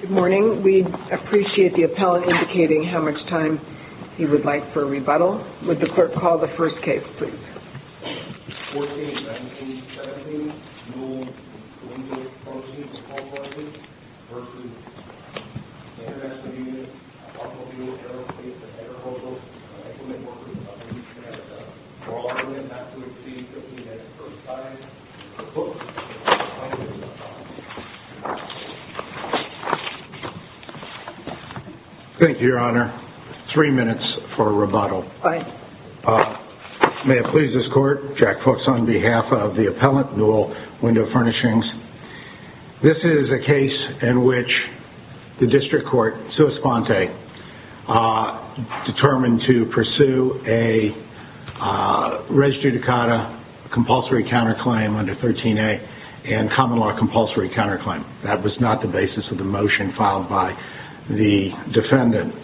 Good morning. We appreciate the appellant indicating how much time he would like for a rebuttal. Would the clerk call the first case, please? 14-17-17 Newell Window Furnishings v. International Union of Automobile, Aerospace, and Aeroportals, Equipment Workers of the United States of America. For all items not to exceed 15 minutes per side, the clerk will now call the roll. Thank you, Your Honor. Three minutes for a rebuttal. Aye. May it please this Court, Jack Fuchs on behalf of the appellant, Newell Window Furnishings. This is a case in which the district court, sua sponte, determined to pursue a res judicata compulsory counterclaim under 13a and common law compulsory counterclaim. That was not the basis of the motion filed by the defendant.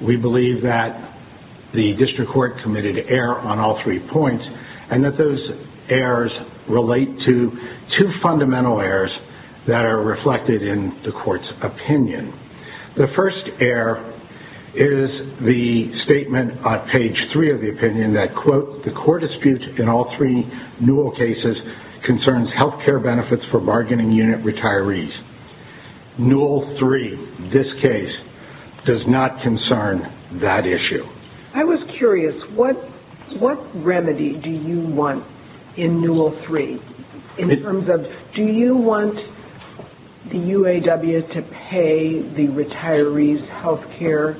We believe that the district court committed error on all three points and that those errors relate to two fundamental errors that are reflected in the court's opinion. The first error is the statement on page three of the opinion that, quote, health care benefits for bargaining unit retirees. Newell 3, this case, does not concern that issue. I was curious. What remedy do you want in Newell 3 in terms of do you want the UAW to pay the retirees health care?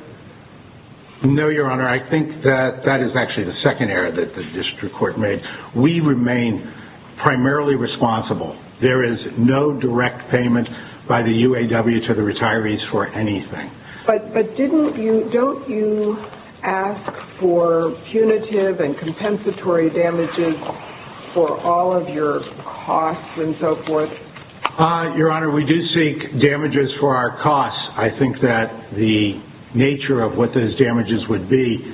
No, Your Honor. I think that that is actually the second error that the district court made. We remain primarily responsible. There is no direct payment by the UAW to the retirees for anything. But didn't you, don't you ask for punitive and compensatory damages for all of your costs and so forth? Your Honor, we do seek damages for our costs. I think that the nature of what those damages would be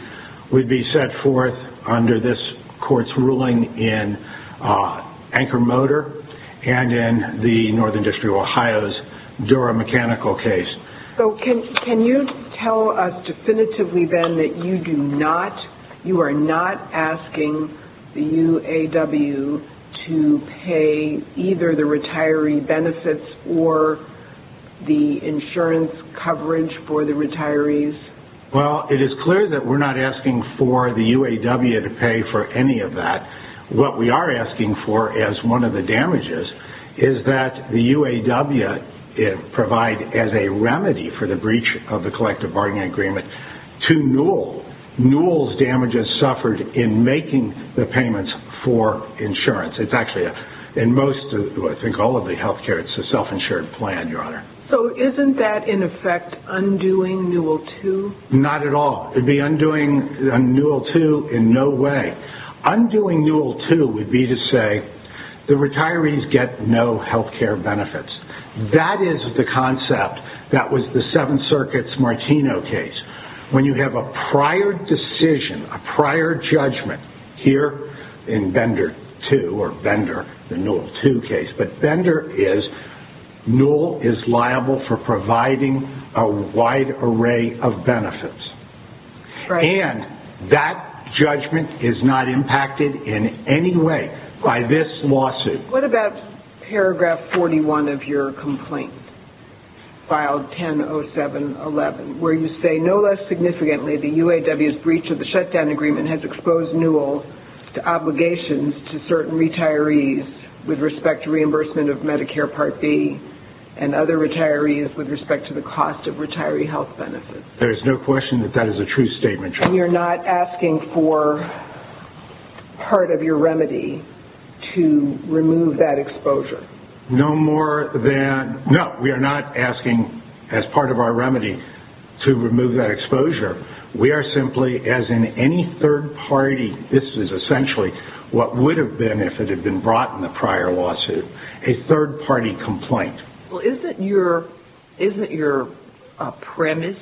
would be set forth under this court's ruling in Anchor Motor and in the Northern District of Ohio's Dura Mechanical case. Can you tell us definitively, Ben, that you do not, you are not asking the UAW to pay either the retiree benefits or the insurance coverage for the retirees? Well, it is clear that we're not asking for the UAW to pay for any of that. What we are asking for as one of the damages is that the UAW provide as a remedy for the breach of the collective bargaining agreement to Newell. Newell's damages suffered in making the payments for insurance. It's actually, in most, I think all of the health care, it's a self-insured plan, Your Honor. So isn't that in effect undoing Newell 2? Not at all. It would be undoing Newell 2 in no way. Undoing Newell 2 would be to say the retirees get no health care benefits. That is the concept that was the Seventh Circuit's Martino case. When you have a prior decision, a prior judgment here in Bender 2 or Bender, the Newell 2 case, but Bender is Newell is liable for providing a wide array of benefits. And that judgment is not impacted in any way by this lawsuit. What about paragraph 41 of your complaint? File 10-07-11, where you say, no less significantly, the UAW's breach of the shutdown agreement has exposed Newell to obligations to certain retirees with respect to reimbursement of Medicare Part D and other retirees with respect to the cost of retiree health benefits. There's no question that that is a true statement. And you're not asking for part of your remedy to remove that exposure? No, we are not asking as part of our remedy to remove that exposure. We are simply, as in any third party, this is essentially what would have been if it had been brought in the prior lawsuit, a third party complaint. Well, isn't your premise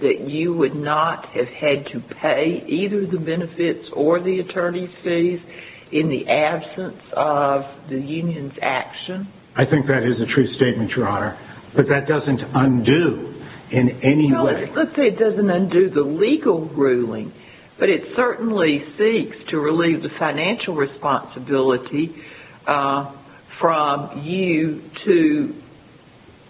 that you would not have had to pay either the benefits or the attorney's fees in the absence of the union's action? I think that is a true statement, Your Honor. But that doesn't undo in any way. Well, let's say it doesn't undo the legal ruling, but it certainly seeks to relieve the financial responsibility from you to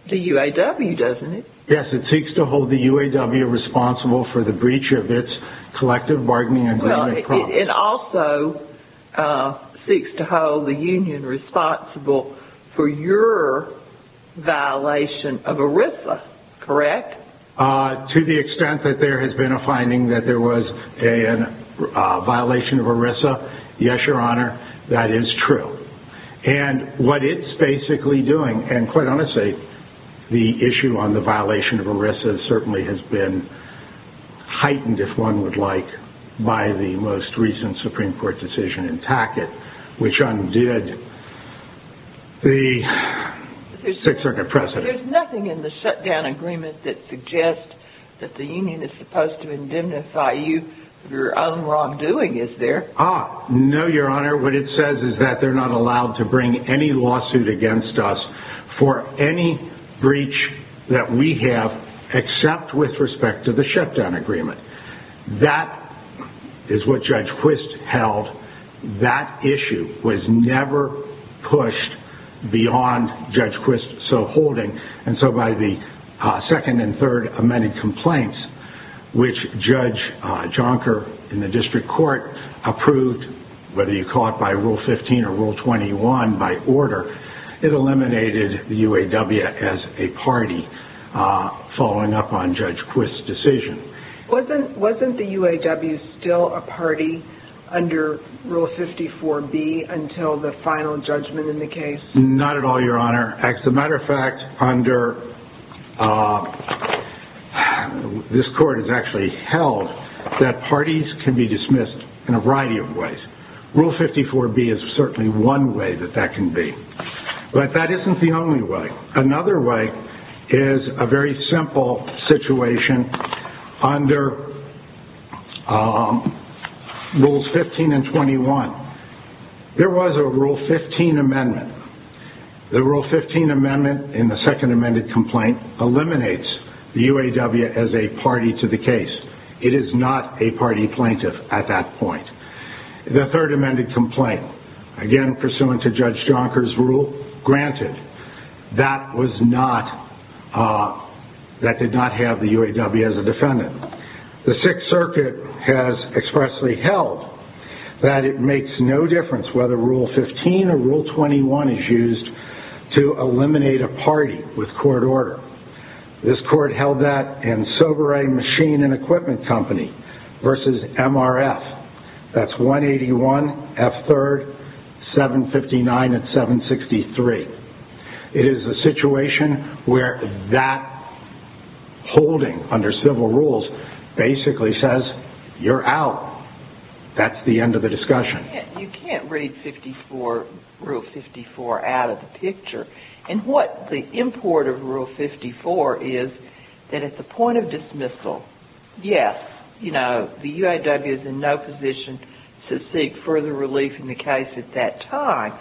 the UAW, doesn't it? Yes, it seeks to hold the UAW responsible for the breach of its collective bargaining agreement promise. It also seeks to hold the union responsible for your violation of ERISA, correct? To the extent that there has been a finding that there was a violation of ERISA, yes, Your Honor, that is true. And what it's basically doing, and quite honestly, the issue on the violation of ERISA certainly has been heightened, if one would like, by the most recent Supreme Court decision in Tackett, which undid the Sixth Circuit precedent. There's nothing in the shutdown agreement that suggests that the union is supposed to indemnify you for your own wrongdoing, is there? Ah, no, Your Honor. What it says is that they're not allowed to bring any lawsuit against us for any breach that we have, except with respect to the shutdown agreement. That is what Judge Quist held. That issue was never pushed beyond Judge Quist so holding, and so by the second and third amended complaints, which Judge Jonker in the district court approved, whether you call it by Rule 15 or Rule 21, by order, it eliminated the UAW as a party following up on Judge Quist's decision. Wasn't the UAW still a party under Rule 54B until the final judgment in the case? Not at all, Your Honor. As a matter of fact, under, this court has actually held that parties can be dismissed in a variety of ways. Rule 54B is certainly one way that that can be, but that isn't the only way. Another way is a very simple situation under Rules 15 and 21. There was a Rule 15 amendment. The Rule 15 amendment in the second amended complaint eliminates the UAW as a party to the case. It is not a party plaintiff at that point. The third amended complaint, again pursuant to Judge Jonker's rule, granted, that was not, that did not have the UAW as a defendant. The Sixth Circuit has expressly held that it makes no difference whether Rule 15 or Rule 21 is used to eliminate a party with court order. This court held that in Sovereign Machine and Equipment Company versus MRF. That's 181 F. 3rd, 759 and 763. It is a situation where that holding under civil rules basically says, you're out. That's the end of the discussion. You can't read Rule 54 out of the picture. And what the import of Rule 54 is that at the point of dismissal, yes, you know, the UAW is in no position to seek further relief in the case at that time.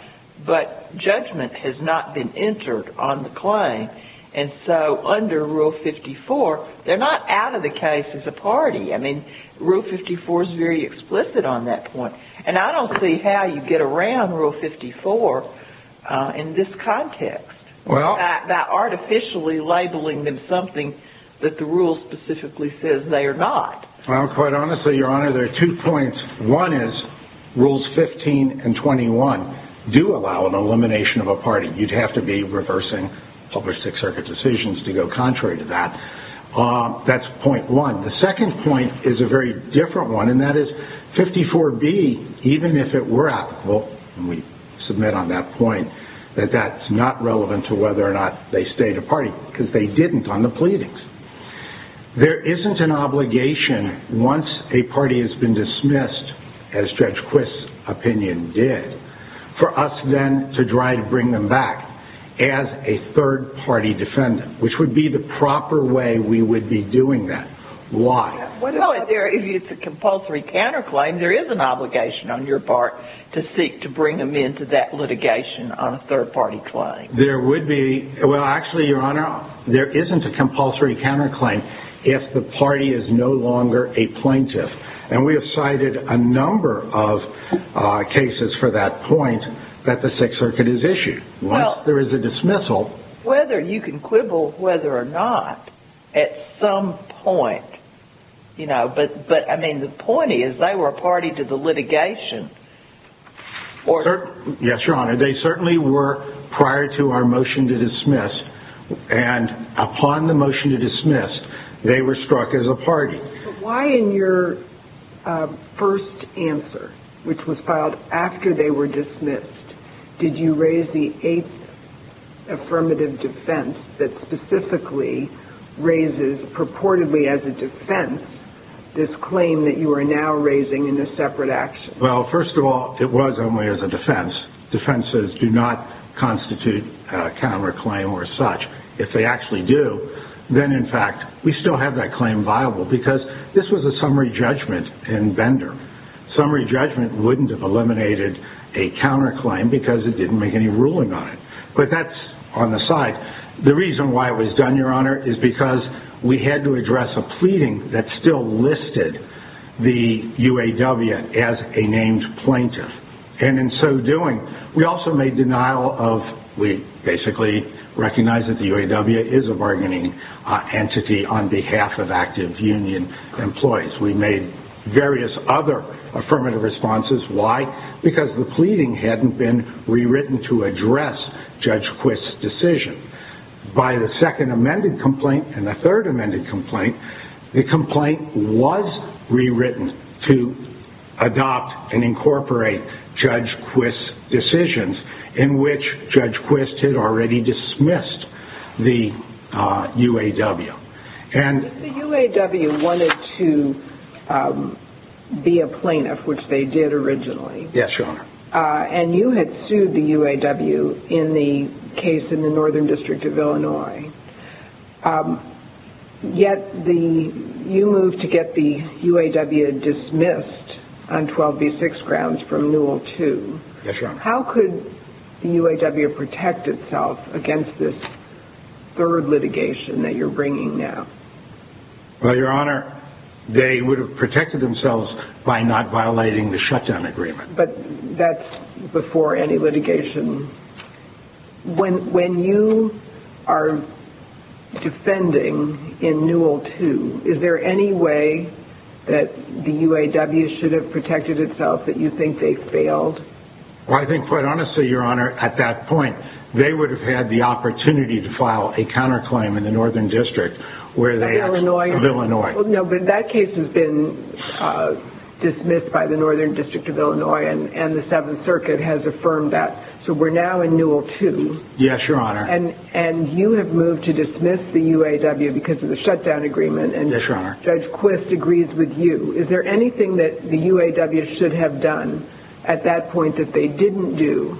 But judgment has not been entered on the claim. And so under Rule 54, they're not out of the case as a party. I mean, Rule 54 is very explicit on that point. And I don't see how you get around Rule 54 in this context by artificially labeling them something that the rule specifically says they are not. Well, quite honestly, Your Honor, there are two points. One is Rules 15 and 21 do allow an elimination of a party. You'd have to be reversing public Sixth Circuit decisions to go contrary to that. That's point one. The second point is a very different one, and that is 54B, even if it were applicable, and we submit on that point, that that's not relevant to whether or not they stayed a party because they didn't on the pleadings. There isn't an obligation once a party has been dismissed, as Judge Quist's opinion did, for us then to try to bring them back as a third-party defendant, which would be the proper way we would be doing that. Why? Well, if it's a compulsory counterclaim, there is an obligation on your part to seek to bring them into that litigation on a third-party claim. There would be. Well, actually, Your Honor, there isn't a compulsory counterclaim if the party is no longer a plaintiff. And we have cited a number of cases for that point that the Sixth Circuit has issued. Well, whether you can quibble whether or not at some point, you know, but, I mean, the point is they were a party to the litigation. Yes, Your Honor. They certainly were prior to our motion to dismiss, and upon the motion to dismiss, they were struck as a party. Why in your first answer, which was filed after they were dismissed, did you raise the eighth affirmative defense that specifically raises, purportedly as a defense, this claim that you are now raising in a separate action? Well, first of all, it was only as a defense. Defenses do not constitute a counterclaim or such. If they actually do, then, in fact, we still have that claim viable because this was a summary judgment in Bender. Summary judgment wouldn't have eliminated a counterclaim because it didn't make any ruling on it. But that's on the side. The reason why it was done, Your Honor, is because we had to address a pleading that still listed the UAW as a named plaintiff. And in so doing, we also made denial of, we basically recognized that the UAW is a bargaining entity on behalf of active union employees. We made various other affirmative responses. Why? Because the pleading hadn't been rewritten to address Judge Quist's decision. By the second amended complaint and the third amended complaint, the complaint was rewritten to adopt and incorporate Judge Quist's decisions, in which Judge Quist had already dismissed the UAW. The UAW wanted to be a plaintiff, which they did originally. Yes, Your Honor. And you had sued the UAW in the case in the Northern District of Illinois. Yet, you moved to get the UAW dismissed on 12B6 grounds from Newell II. Yes, Your Honor. How could the UAW protect itself against this third litigation that you're bringing now? Well, Your Honor, they would have protected themselves by not violating the shutdown agreement. But that's before any litigation. When you are defending in Newell II, is there any way that the UAW should have protected itself that you think they failed? Well, I think, quite honestly, Your Honor, at that point, they would have had the opportunity to file a counterclaim in the Northern District of Illinois. Well, no, but that case has been dismissed by the Northern District of Illinois, and the Seventh Circuit has affirmed that. So we're now in Newell II. Yes, Your Honor. And you have moved to dismiss the UAW because of the shutdown agreement. Yes, Your Honor. And Judge Quist agrees with you. Is there anything that the UAW should have done at that point that they didn't do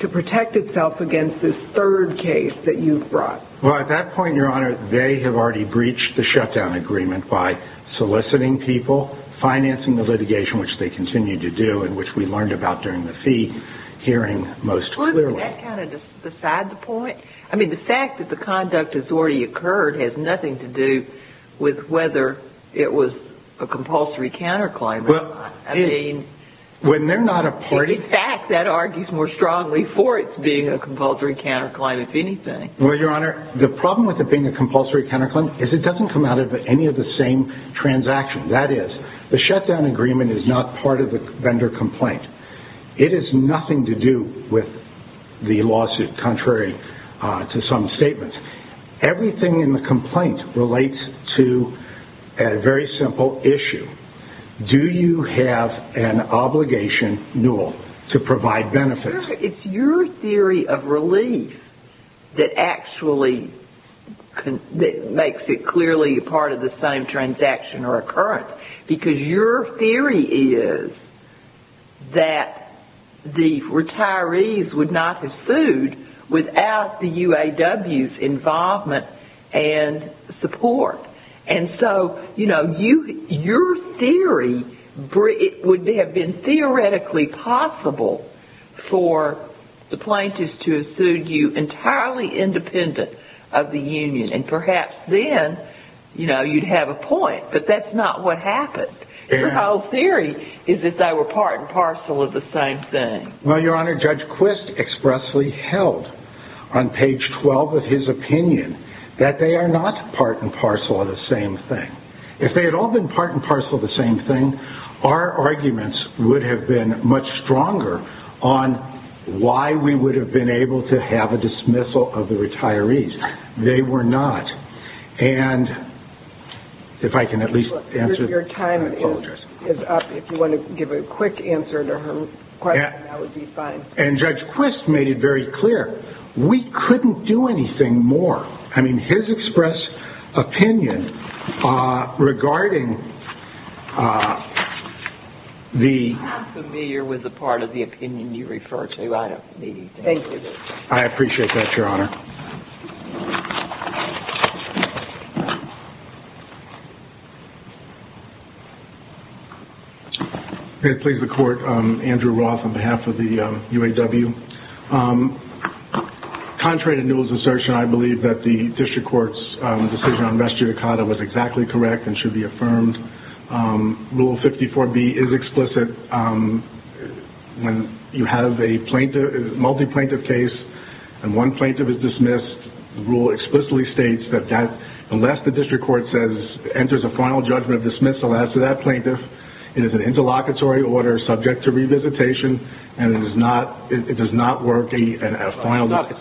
to protect itself against this third case that you've brought? Well, at that point, Your Honor, they have already breached the shutdown agreement by soliciting people, financing the litigation, which they continue to do, and which we learned about during the fee hearing most clearly. Well, isn't that kind of beside the point? I mean, the fact that the conduct has already occurred has nothing to do with whether it was a compulsory counterclaim. Well, it is. I mean, in fact, that argues more strongly for its being a compulsory counterclaim, if anything. Well, Your Honor, the problem with it being a compulsory counterclaim is it doesn't come out of any of the same transactions. That is, the shutdown agreement is not part of the vendor complaint. It has nothing to do with the lawsuit, contrary to some statements. Everything in the complaint relates to a very simple issue. Do you have an obligation, Newell, to provide benefits? It's your theory of relief that actually makes it clearly part of the same transaction or occurrence, because your theory is that the retirees would not have sued without the UAW's involvement and support. And so, you know, your theory would have been theoretically possible for the plaintiffs to have sued you entirely independent of the union. And perhaps then, you know, you'd have a point. But that's not what happened. Your whole theory is that they were part and parcel of the same thing. Well, Your Honor, Judge Quist expressly held on page 12 of his opinion that they are not part and parcel of the same thing. If they had all been part and parcel of the same thing, our arguments would have been much stronger on why we would have been able to have a dismissal of the retirees. They were not. And if I can at least answer. Your time is up. If you want to give a quick answer to her question, that would be fine. And Judge Quist made it very clear. We couldn't do anything more. I mean, his express opinion regarding the... I'm familiar with the part of the opinion you refer to. Thank you. I appreciate that, Your Honor. Thank you. May it please the Court. Andrew Roth on behalf of the UAW. Contrary to Newell's assertion, I believe that the District Court's decision on res judicata was exactly correct and should be affirmed. Rule 54B is explicit. When you have a multi-plaintiff case and one plaintiff is dismissed, the rule explicitly states that unless the District Court enters a final judgment of dismissal as to that plaintiff, it is an interlocutory order subject to revisitation, and it does not work. It's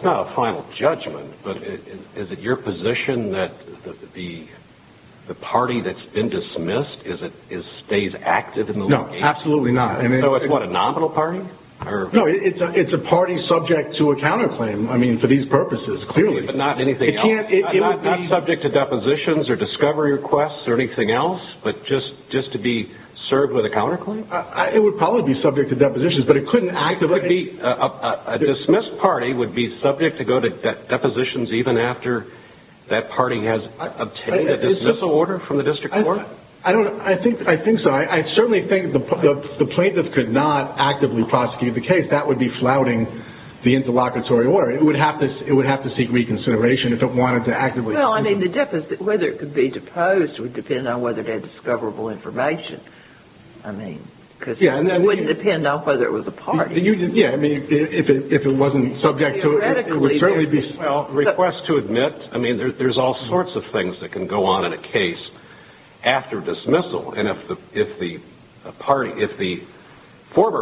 not a final judgment, but is it your position that the party that's been dismissed stays active in the litigation? No, absolutely not. So it's what, a nominal party? No, it's a party subject to a counterclaim. I mean, for these purposes, clearly. But not anything else? It can't be... Not subject to depositions or discovery requests or anything else, but just to be served with a counterclaim? It would probably be subject to depositions, but it couldn't... A dismissed party would be subject to go to depositions even after that party has obtained a dismissal order from the District Court? I think so. I certainly think the plaintiff could not actively prosecute the case. That would be flouting the interlocutory order. It would have to seek reconsideration if it wanted to actively... Well, I mean, the difference, whether it could be deposed would depend on whether they had discoverable information. I mean, because it wouldn't depend on whether it was a party. Yeah, I mean, if it wasn't subject to... Theoretically... It would certainly be... If the former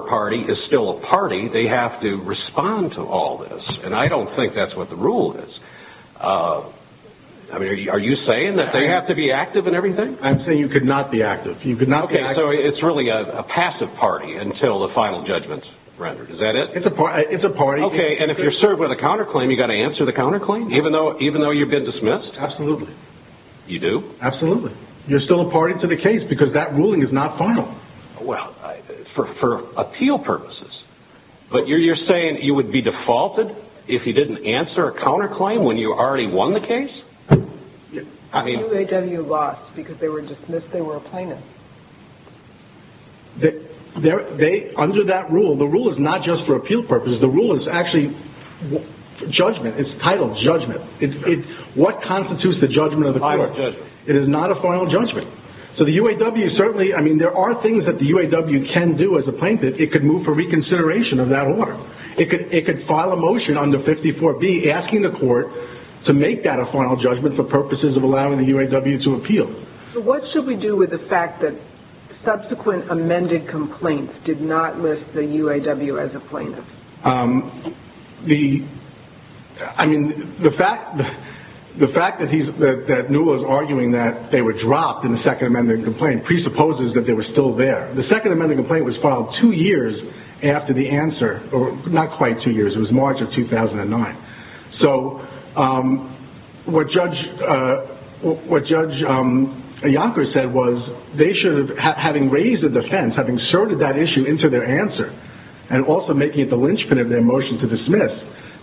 party is still a party, they have to respond to all this, and I don't think that's what the rule is. I mean, are you saying that they have to be active in everything? I'm saying you could not be active. You could not be active. Okay, so it's really a passive party until the final judgment's rendered, is that it? It's a party. Okay, and if you're served with a counterclaim, you've got to answer the counterclaim, even though you've been dismissed? Absolutely. You do? Absolutely. You're still a party to the case because that ruling is not final. Well, for appeal purposes. But you're saying you would be defaulted if you didn't answer a counterclaim when you already won the case? I mean... The UAW lost because they were dismissed. They were a plaintiff. Under that rule, the rule is not just for appeal purposes. The rule is actually judgment. It's titled judgment. What constitutes the judgment of the court? It is not a final judgment. So the UAW certainly... I mean, there are things that the UAW can do as a plaintiff. It could move for reconsideration of that order. It could file a motion under 54B asking the court to make that a final judgment for purposes of allowing the UAW to appeal. So what should we do with the fact that subsequent amended complaints did not list the UAW as a plaintiff? I mean, the fact that Newell is arguing that they were dropped in the second amended complaint presupposes that they were still there. The second amended complaint was filed two years after the answer. Not quite two years. It was March of 2009. So what Judge Iacocca said was they should have... Having raised a defense, having inserted that issue into their answer and also making it the linchpin of their motion to dismiss,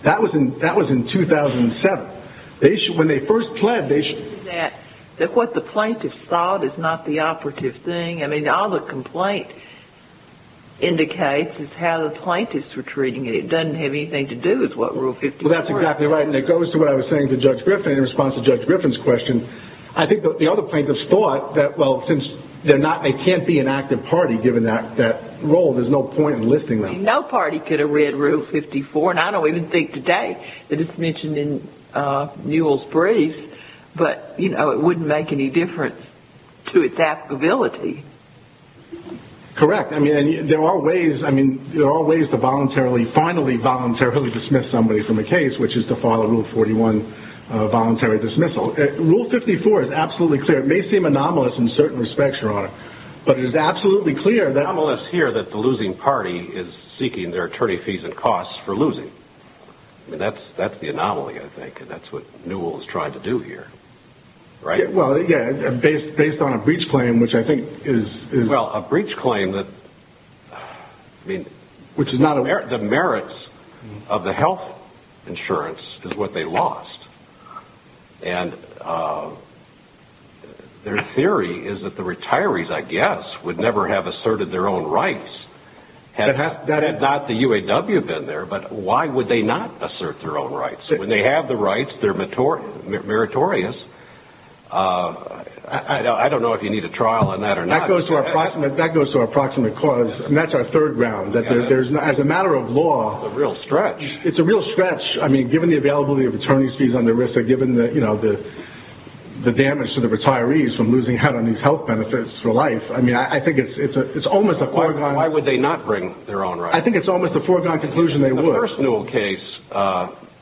that was in 2007. When they first pled, they should... That what the plaintiffs thought is not the operative thing. I mean, all the complaint indicates is how the plaintiffs were treating it. It doesn't have anything to do with what Rule 54 is. Well, that's exactly right, and it goes to what I was saying to Judge Griffin in response to Judge Griffin's question. I think the other plaintiffs thought that, well, since they can't be an active party given that role, there's no point in listing them. No party could have read Rule 54, and I don't even think today that it's mentioned in Newell's briefs. But, you know, it wouldn't make any difference to its applicability. Correct. I mean, there are ways to voluntarily, finally voluntarily dismiss somebody from a case, which is to follow Rule 41 voluntary dismissal. Rule 54 is absolutely clear. It may seem anomalous in certain respects, Your Honor, but it is absolutely clear that... It's anomalous here that the losing party is seeking their attorney fees and costs for losing. I mean, that's the anomaly, I think, and that's what Newell's tried to do here, right? Well, yeah, based on a breach claim, which I think is... Well, a breach claim that, I mean... Which is not a... The merits of the health insurance is what they lost. And their theory is that the retirees, I guess, would never have asserted their own rights had not the UAW been there. But why would they not assert their own rights? When they have the rights, they're meritorious. That goes to our approximate cause, and that's our third ground, that as a matter of law... It's a real stretch. It's a real stretch. I mean, given the availability of attorney's fees on their wrist, or given the damage to the retirees from losing out on these health benefits for life. I mean, I think it's almost a foregone... Why would they not bring their own rights? I think it's almost a foregone conclusion they would. In the first Newell case,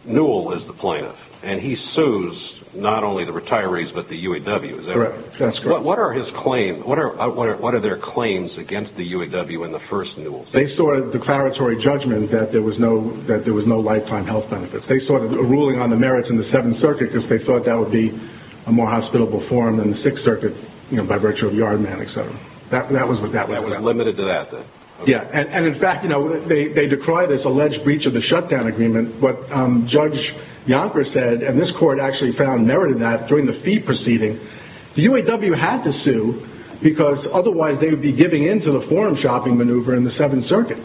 Newell was the plaintiff, and he sues not only the retirees, but the UAW. Is that right? That's correct. But what are his claims? What are their claims against the UAW in the first Newell case? They saw a declaratory judgment that there was no lifetime health benefits. They saw a ruling on the merits in the Seventh Circuit, because they thought that would be a more hospitable forum than the Sixth Circuit, by virtue of Yard Man, etc. That was what that was. That was limited to that, then. Yeah. And, in fact, they decry this alleged breach of the shutdown agreement. What Judge Yonker said, and this court actually found merited that, during the fee proceeding, the UAW had to sue, because otherwise they would be giving in to the forum shopping maneuver in the Seventh Circuit.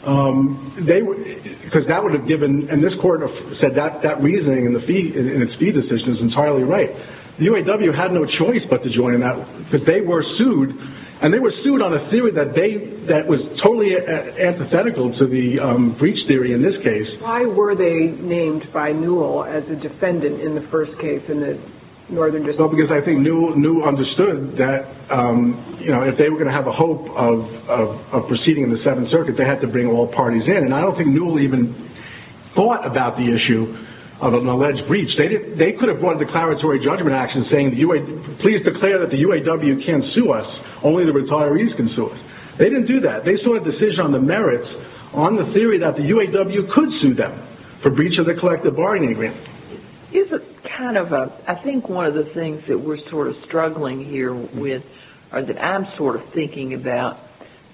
Because that would have given—and this court said that reasoning in its fee decision is entirely right. The UAW had no choice but to join in that, because they were sued, and they were sued on a theory that was totally antithetical to the breach theory in this case. Why were they named by Newell as a defendant in the first case in the Northern District? Well, because I think Newell understood that, you know, if they were going to have a hope of proceeding in the Seventh Circuit, they had to bring all parties in. And I don't think Newell even thought about the issue of an alleged breach. They could have brought a declaratory judgment action saying, please declare that the UAW can't sue us, only the retirees can sue us. They didn't do that. They saw a decision on the merits on the theory that the UAW could sue them for breach of the collective bargaining agreement. Isn't kind of a—I think one of the things that we're sort of struggling here with, or that I'm sort of thinking about,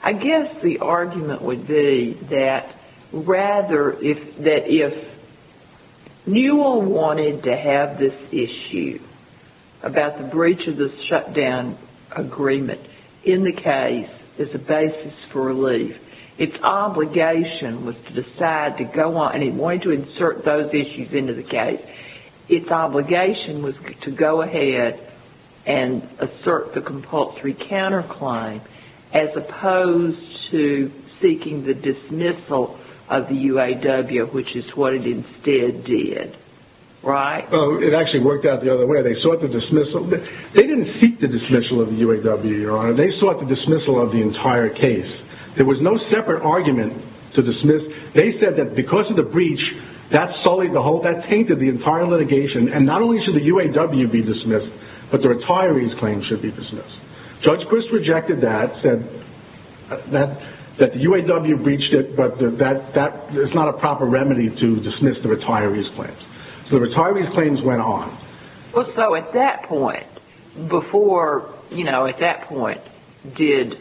I guess the argument would be that rather if Newell wanted to have this issue about the breach of the shutdown agreement in the case as a basis for relief, its obligation was to decide to go on—and it wanted to insert those issues into the case. Its obligation was to go ahead and assert the compulsory counterclaim as opposed to seeking the dismissal of the UAW, which is what it instead did. Right? Well, it actually worked out the other way. They sought the dismissal. They didn't seek the dismissal of the UAW, Your Honor. They sought the dismissal of the entire case. There was no separate argument to dismiss. They said that because of the breach, that sullied the whole—that tainted the entire litigation. And not only should the UAW be dismissed, but the retirees' claims should be dismissed. Judge Crist rejected that, said that the UAW breached it, but that is not a proper remedy to dismiss the retirees' claims. So the retirees' claims went on. Well, so at that point, before—you know, at that point, didn't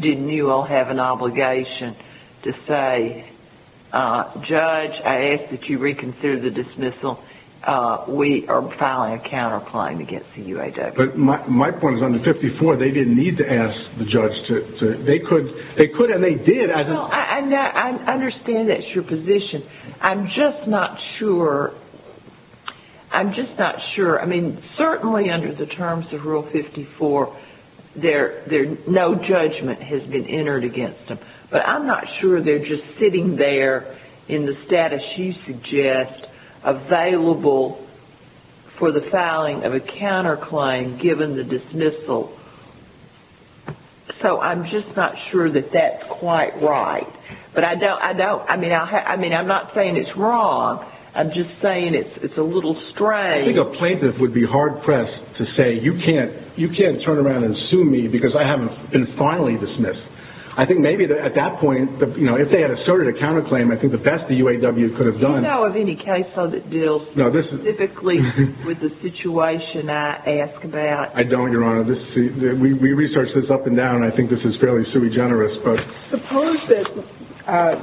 you all have an obligation to say, Judge, I ask that you reconsider the dismissal. We are filing a counterclaim against the UAW. But my point is under 54, they didn't need to ask the judge to—they could, and they did. No, I understand that's your position. I'm just not sure. I'm just not sure. I mean, certainly under the terms of Rule 54, no judgment has been entered against them. But I'm not sure they're just sitting there in the status you suggest, available for the filing of a counterclaim given the dismissal. So I'm just not sure that that's quite right. But I don't—I mean, I'm not saying it's wrong. I'm just saying it's a little strange. I think a plaintiff would be hard-pressed to say, you can't turn around and sue me because I haven't been finally dismissed. I think maybe at that point, you know, if they had asserted a counterclaim, I think the best the UAW could have done— Do you know of any case that deals specifically with the situation I ask about? I don't, Your Honor. We researched this up and down, and I think this is fairly sui generis. Suppose that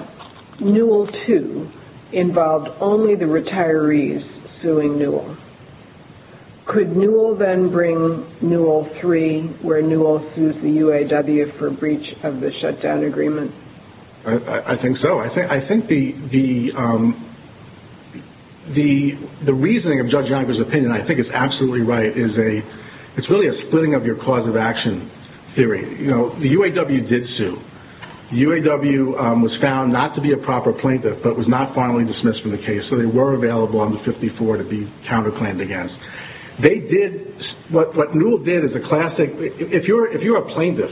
Newell 2 involved only the retirees suing Newell. Could Newell then bring Newell 3, where Newell sues the UAW for breach of the shutdown agreement? I think so. I think the reasoning of Judge Yonker's opinion I think is absolutely right. It's really a splitting-of-your-cause-of-action theory. The UAW did sue. The UAW was found not to be a proper plaintiff but was not finally dismissed from the case, so they were available on the 54 to be counterclaimed against. What Newell did is a classic— If you're a plaintiff,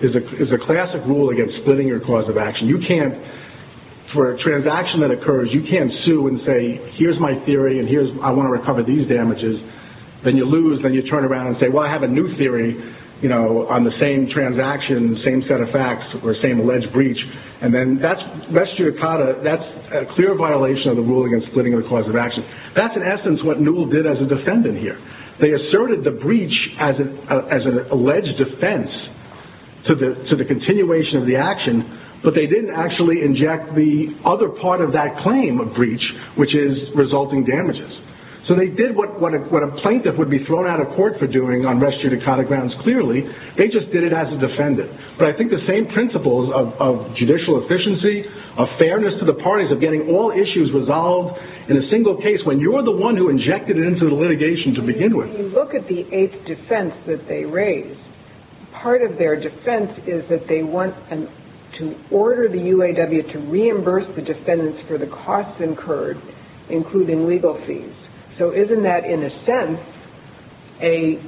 there's a classic rule against splitting-your-cause-of-action. For a transaction that occurs, you can't sue and say, here's my theory and I want to recover these damages. Then you lose, then you turn around and say, well, I have a new theory on the same transaction, same set of facts, or same alleged breach. Then that's a clear violation of the rule against splitting-of-the-cause-of-action. That's, in essence, what Newell did as a defendant here. They asserted the breach as an alleged offense to the continuation of the action, but they didn't actually inject the other part of that claim of breach, which is resulting damages. So they did what a plaintiff would be thrown out of court for doing on res judicata grounds, clearly. They just did it as a defendant. But I think the same principles of judicial efficiency, of fairness to the parties, of getting all issues resolved in a single case, when you're the one who injected it into the litigation to begin with. When you look at the eighth defense that they raised, part of their defense is that they want to order the UAW to reimburse the defendants for the costs incurred, including legal fees. So isn't that, in a sense, a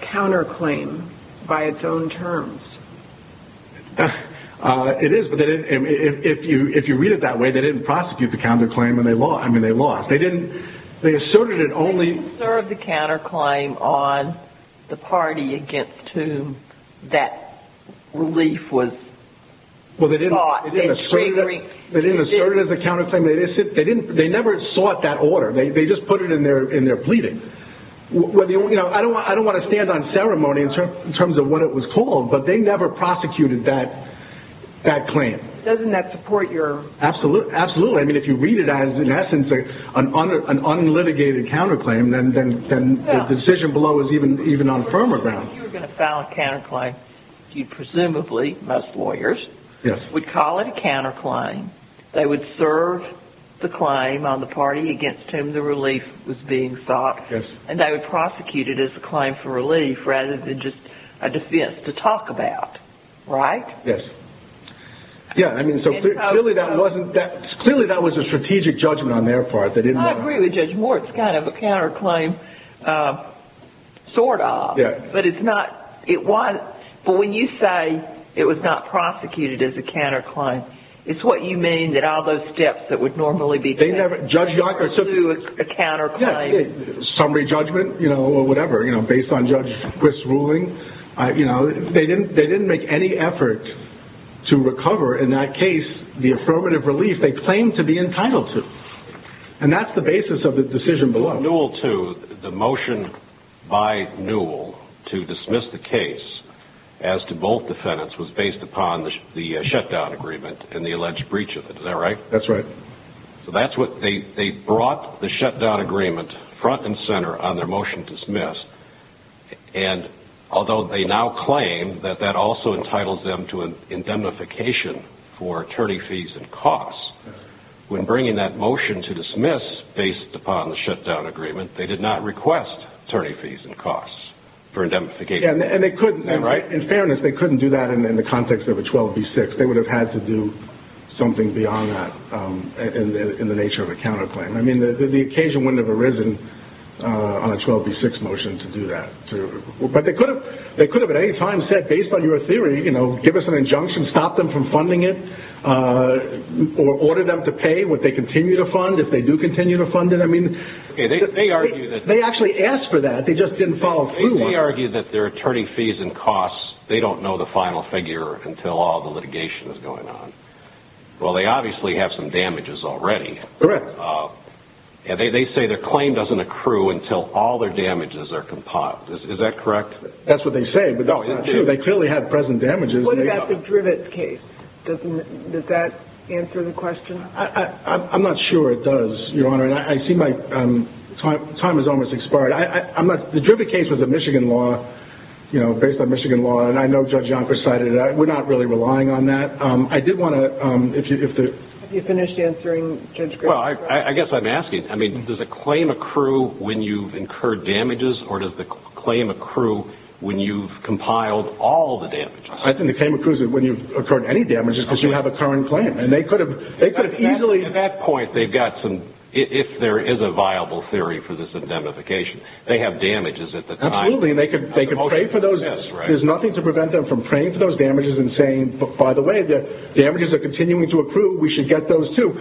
counterclaim by its own terms? It is, but if you read it that way, they didn't prosecute the counterclaim and they lost. They asserted it only... They didn't assert the counterclaim on the party against whom that relief was sought. They didn't assert it as a counterclaim. They never sought that order. They just put it in their pleading. I don't want to stand on ceremony in terms of what it was called, but they never prosecuted that claim. Doesn't that support your... Absolutely. I mean, if you read it as, in essence, an unlitigated counterclaim, then the decision below is even on firmer ground. If you were going to file a counterclaim, you presumably, most lawyers, would call it a counterclaim. They would serve the claim on the party against whom the relief was being sought, and they would prosecute it as a claim for relief rather than just a defense to talk about. Right? Yes. Yeah, I mean, so clearly that wasn't... Clearly that was a strategic judgment on their part. I agree with Judge Moore. It's kind of a counterclaim, sort of. But it's not... But when you say it was not prosecuted as a counterclaim, it's what you mean that all those steps that would normally be taken... They never... ...to do a counterclaim. Summary judgment, you know, or whatever, you know, based on Judge Quist's ruling. You know, they didn't make any effort to recover, in that case, the affirmative relief they claimed to be entitled to. And that's the basis of the decision below. The motion by Newell to dismiss the case as to both defendants was based upon the shutdown agreement and the alleged breach of it. Is that right? That's right. So that's what... They brought the shutdown agreement front and center on their motion to dismiss. And although they now claim that that also entitles them to indemnification for attorney fees and costs, when bringing that motion to dismiss based upon the shutdown agreement, they did not request attorney fees and costs for indemnification. And they couldn't, right? In fairness, they couldn't do that in the context of a 12B6. They would have had to do something beyond that in the nature of a counterclaim. I mean, the occasion wouldn't have arisen on a 12B6 motion to do that. But they could have at any time said, based on your theory, you know, give us an injunction, stop them from funding it, or order them to pay what they continue to fund if they do continue to fund it. I mean... They argue that... They actually asked for that. They just didn't follow through. They argue that their attorney fees and costs, they don't know the final figure until all the litigation is going on. Well, they obviously have some damages already. Correct. They say their claim doesn't accrue until all their damages are compiled. Is that correct? That's what they say. They clearly have present damages. What about the Drivett case? Does that answer the question? I'm not sure it does, Your Honor. I see my time has almost expired. The Drivett case was a Michigan law, you know, based on Michigan law, and I know Judge Yonkers cited it. We're not really relying on that. I did want to, if the... Have you finished answering Judge Griffith? Well, I guess I'm asking. I mean, does a claim accrue when you've incurred damages, or does the claim accrue when you've compiled all the damages? I think the claim accrues when you've incurred any damages, because you have a current claim, and they could have easily... At that point, they've got some, if there is a viable theory for this indemnification, they have damages at the time. Absolutely, and they could pay for those. There's nothing to prevent them from paying for those damages and saying, by the way, the damages are continuing to accrue. We should get those, too.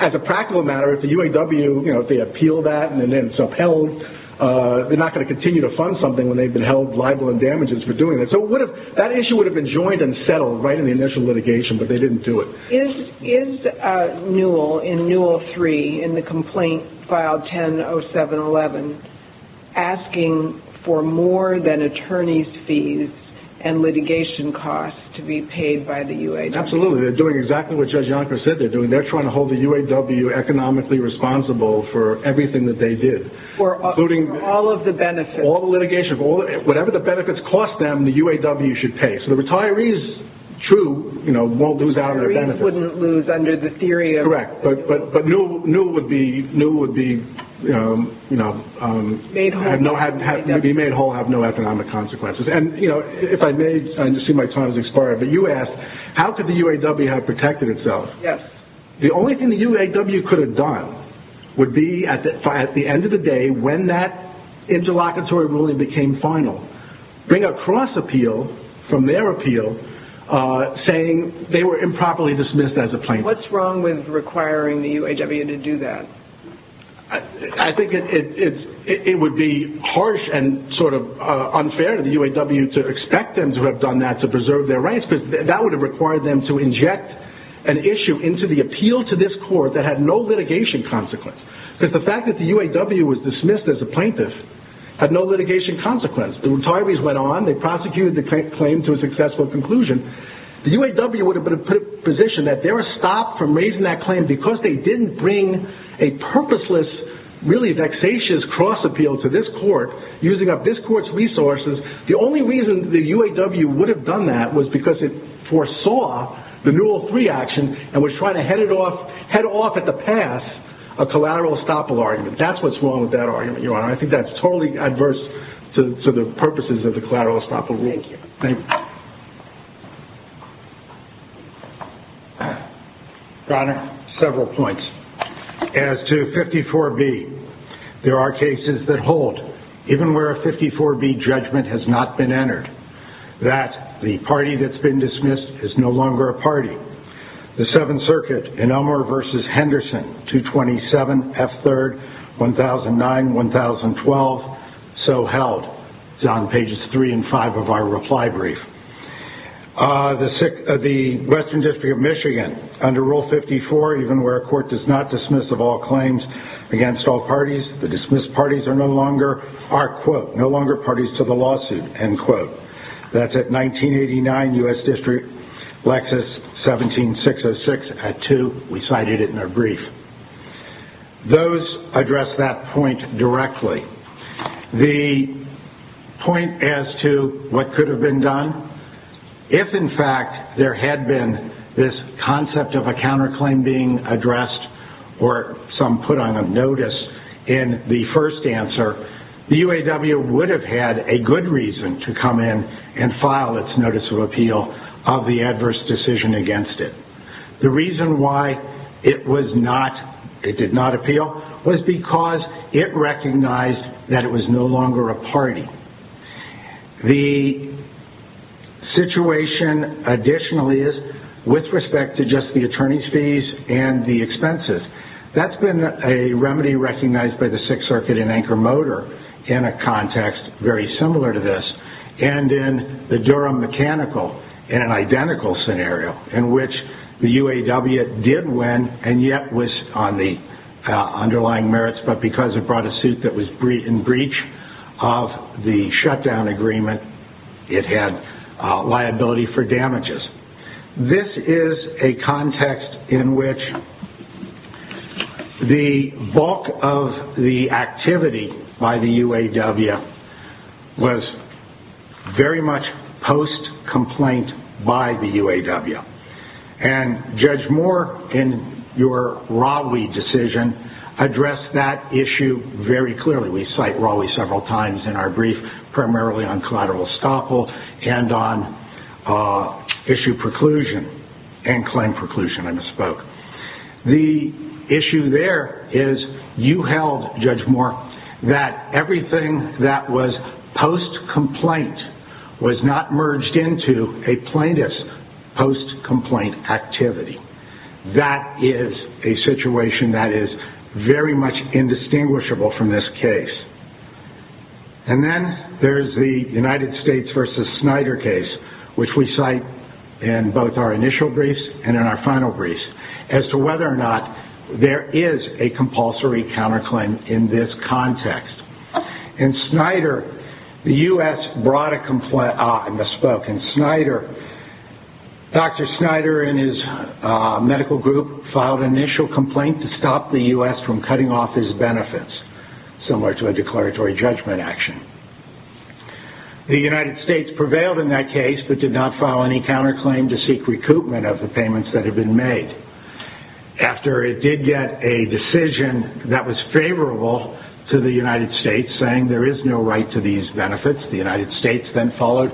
As a practical matter, if the UAW, you know, if they appeal that and then it's upheld, they're not going to continue to fund something when they've been held liable in damages for doing it. So that issue would have been joined and settled right in the initial litigation, but they didn't do it. Is Newell, in Newell 3, in the complaint filed 100711, asking for more than attorney's fees and litigation costs to be paid by the UAW? Absolutely. They're doing exactly what Judge Yonker said they're doing. They're trying to hold the UAW economically responsible for everything that they did. For all of the benefits. All the litigation. Whatever the benefits cost them, the UAW should pay. So the retirees, true, you know, won't lose out on their benefits. Retirees wouldn't lose under the theory of... Correct, but Newell would be, you know... Made whole. Be made whole, have no economic consequences. And, you know, if I may, I just see my time has expired, but you asked, how could the UAW have protected itself? Yes. The only thing the UAW could have done would be, at the end of the day, when that interlocutory ruling became final, bring a cross-appeal from their appeal saying they were improperly dismissed as a plaintiff. What's wrong with requiring the UAW to do that? I think it would be harsh and sort of unfair to the UAW to expect them to have done that to preserve their rights, because that would have required them to inject an issue into the appeal to this court that had no litigation consequence. Because the fact that the UAW was dismissed as a plaintiff had no litigation consequence. The retirees went on, they prosecuted the claim to a successful conclusion. The UAW would have been in a position that they were stopped from raising that claim because they didn't bring a purposeless, really vexatious cross-appeal to this court using up this court's resources. The only reason the UAW would have done that was because it foresaw the Newell III action and was trying to head off at the pass a collateral estoppel argument. That's what's wrong with that argument, Your Honor. I think that's totally adverse to the purposes of the collateral estoppel rule. Thank you. Your Honor, several points. As to 54B, there are cases that hold, even where a 54B judgment has not been entered, that the party that's been dismissed is no longer a party. The Seventh Circuit in Elmer v. Henderson, 227F3rd, 1009-1012, so held. It's on pages 3 and 5 of our reply brief. The Western District of Michigan, under Rule 54, even where a court does not dismiss of all claims against all parties, the dismissed parties are no longer, are, quote, no longer parties to the lawsuit, end quote. That's at 1989, U.S. District, Lexis, 17606, at 2. We cited it in our brief. Those address that point directly. The point as to what could have been done, if, in fact, there had been this concept of a counterclaim being addressed or some put on a notice in the first answer, the UAW would have had a good reason to come in and file its notice of appeal of the adverse decision against it. The reason why it was not, it did not appeal, was because it recognized that it was no longer a party. The situation, additionally, is, with respect to just the attorney's fees and the expenses, that's been a remedy recognized by the Sixth Circuit in Anchor Motor in a context very similar to this and in the Durham Mechanical in an identical scenario in which the UAW did win and yet was on the underlying merits, but because it brought a suit that was in breach of the shutdown agreement, it had liability for damages. This is a context in which the bulk of the activity by the UAW was very much post-complaint by the UAW. And Judge Moore, in your Raleigh decision, addressed that issue very clearly. We cite Raleigh several times in our brief, primarily on collateral estoppel and on issue preclusion and claim preclusion, I misspoke. The issue there is you held, Judge Moore, that everything that was post-complaint was not merged into a plaintiff's post-complaint activity. That is a situation that is very much indistinguishable from this case. And then there's the United States v. Snyder case, which we cite in both our initial briefs and in our final briefs, as to whether or not there is a compulsory counterclaim in this context. In Snyder, the U.S. brought a complaint, I misspoke. In Snyder, Dr. Snyder and his medical group filed an initial complaint to stop the U.S. from cutting off his benefits, similar to a declaratory judgment action. The United States prevailed in that case but did not file any counterclaim to seek recoupment of the payments that had been made. After it did get a decision that was favorable to the United States, saying there is no right to these benefits, the United States then filed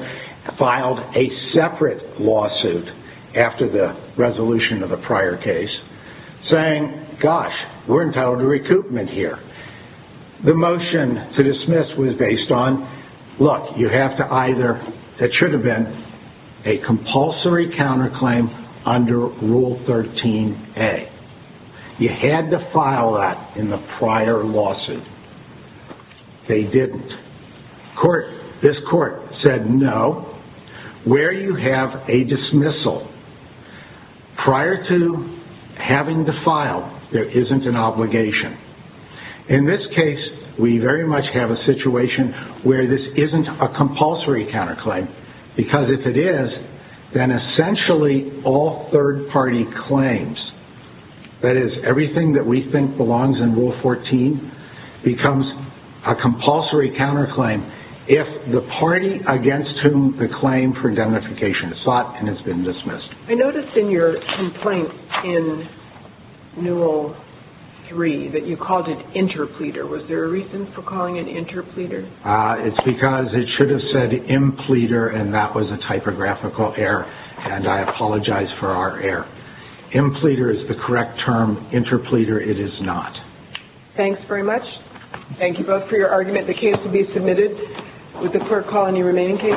a separate lawsuit after the resolution of the prior case, saying, gosh, we're entitled to recoupment here. The motion to dismiss was based on, look, you have to either, it should have been, a compulsory counterclaim under Rule 13a. You had to file that in the prior lawsuit. They didn't. This court said no. Where you have a dismissal, prior to having to file, there isn't an obligation. In this case, we very much have a situation where this isn't a compulsory counterclaim because if it is, then essentially all third-party claims, that is, everything that we think belongs in Rule 14, becomes a compulsory counterclaim if the party against whom the claim for indemnification is sought and has been dismissed. I noticed in your complaint in Newell 3 that you called it interpleader. Was there a reason for calling it interpleader? It's because it should have said impleader, and that was a typographical error, and I apologize for our error. Impleader is the correct term. Interpleader it is not. Thanks very much. Thank you both for your argument. The case will be submitted. Would the court call any remaining cases? Thank you.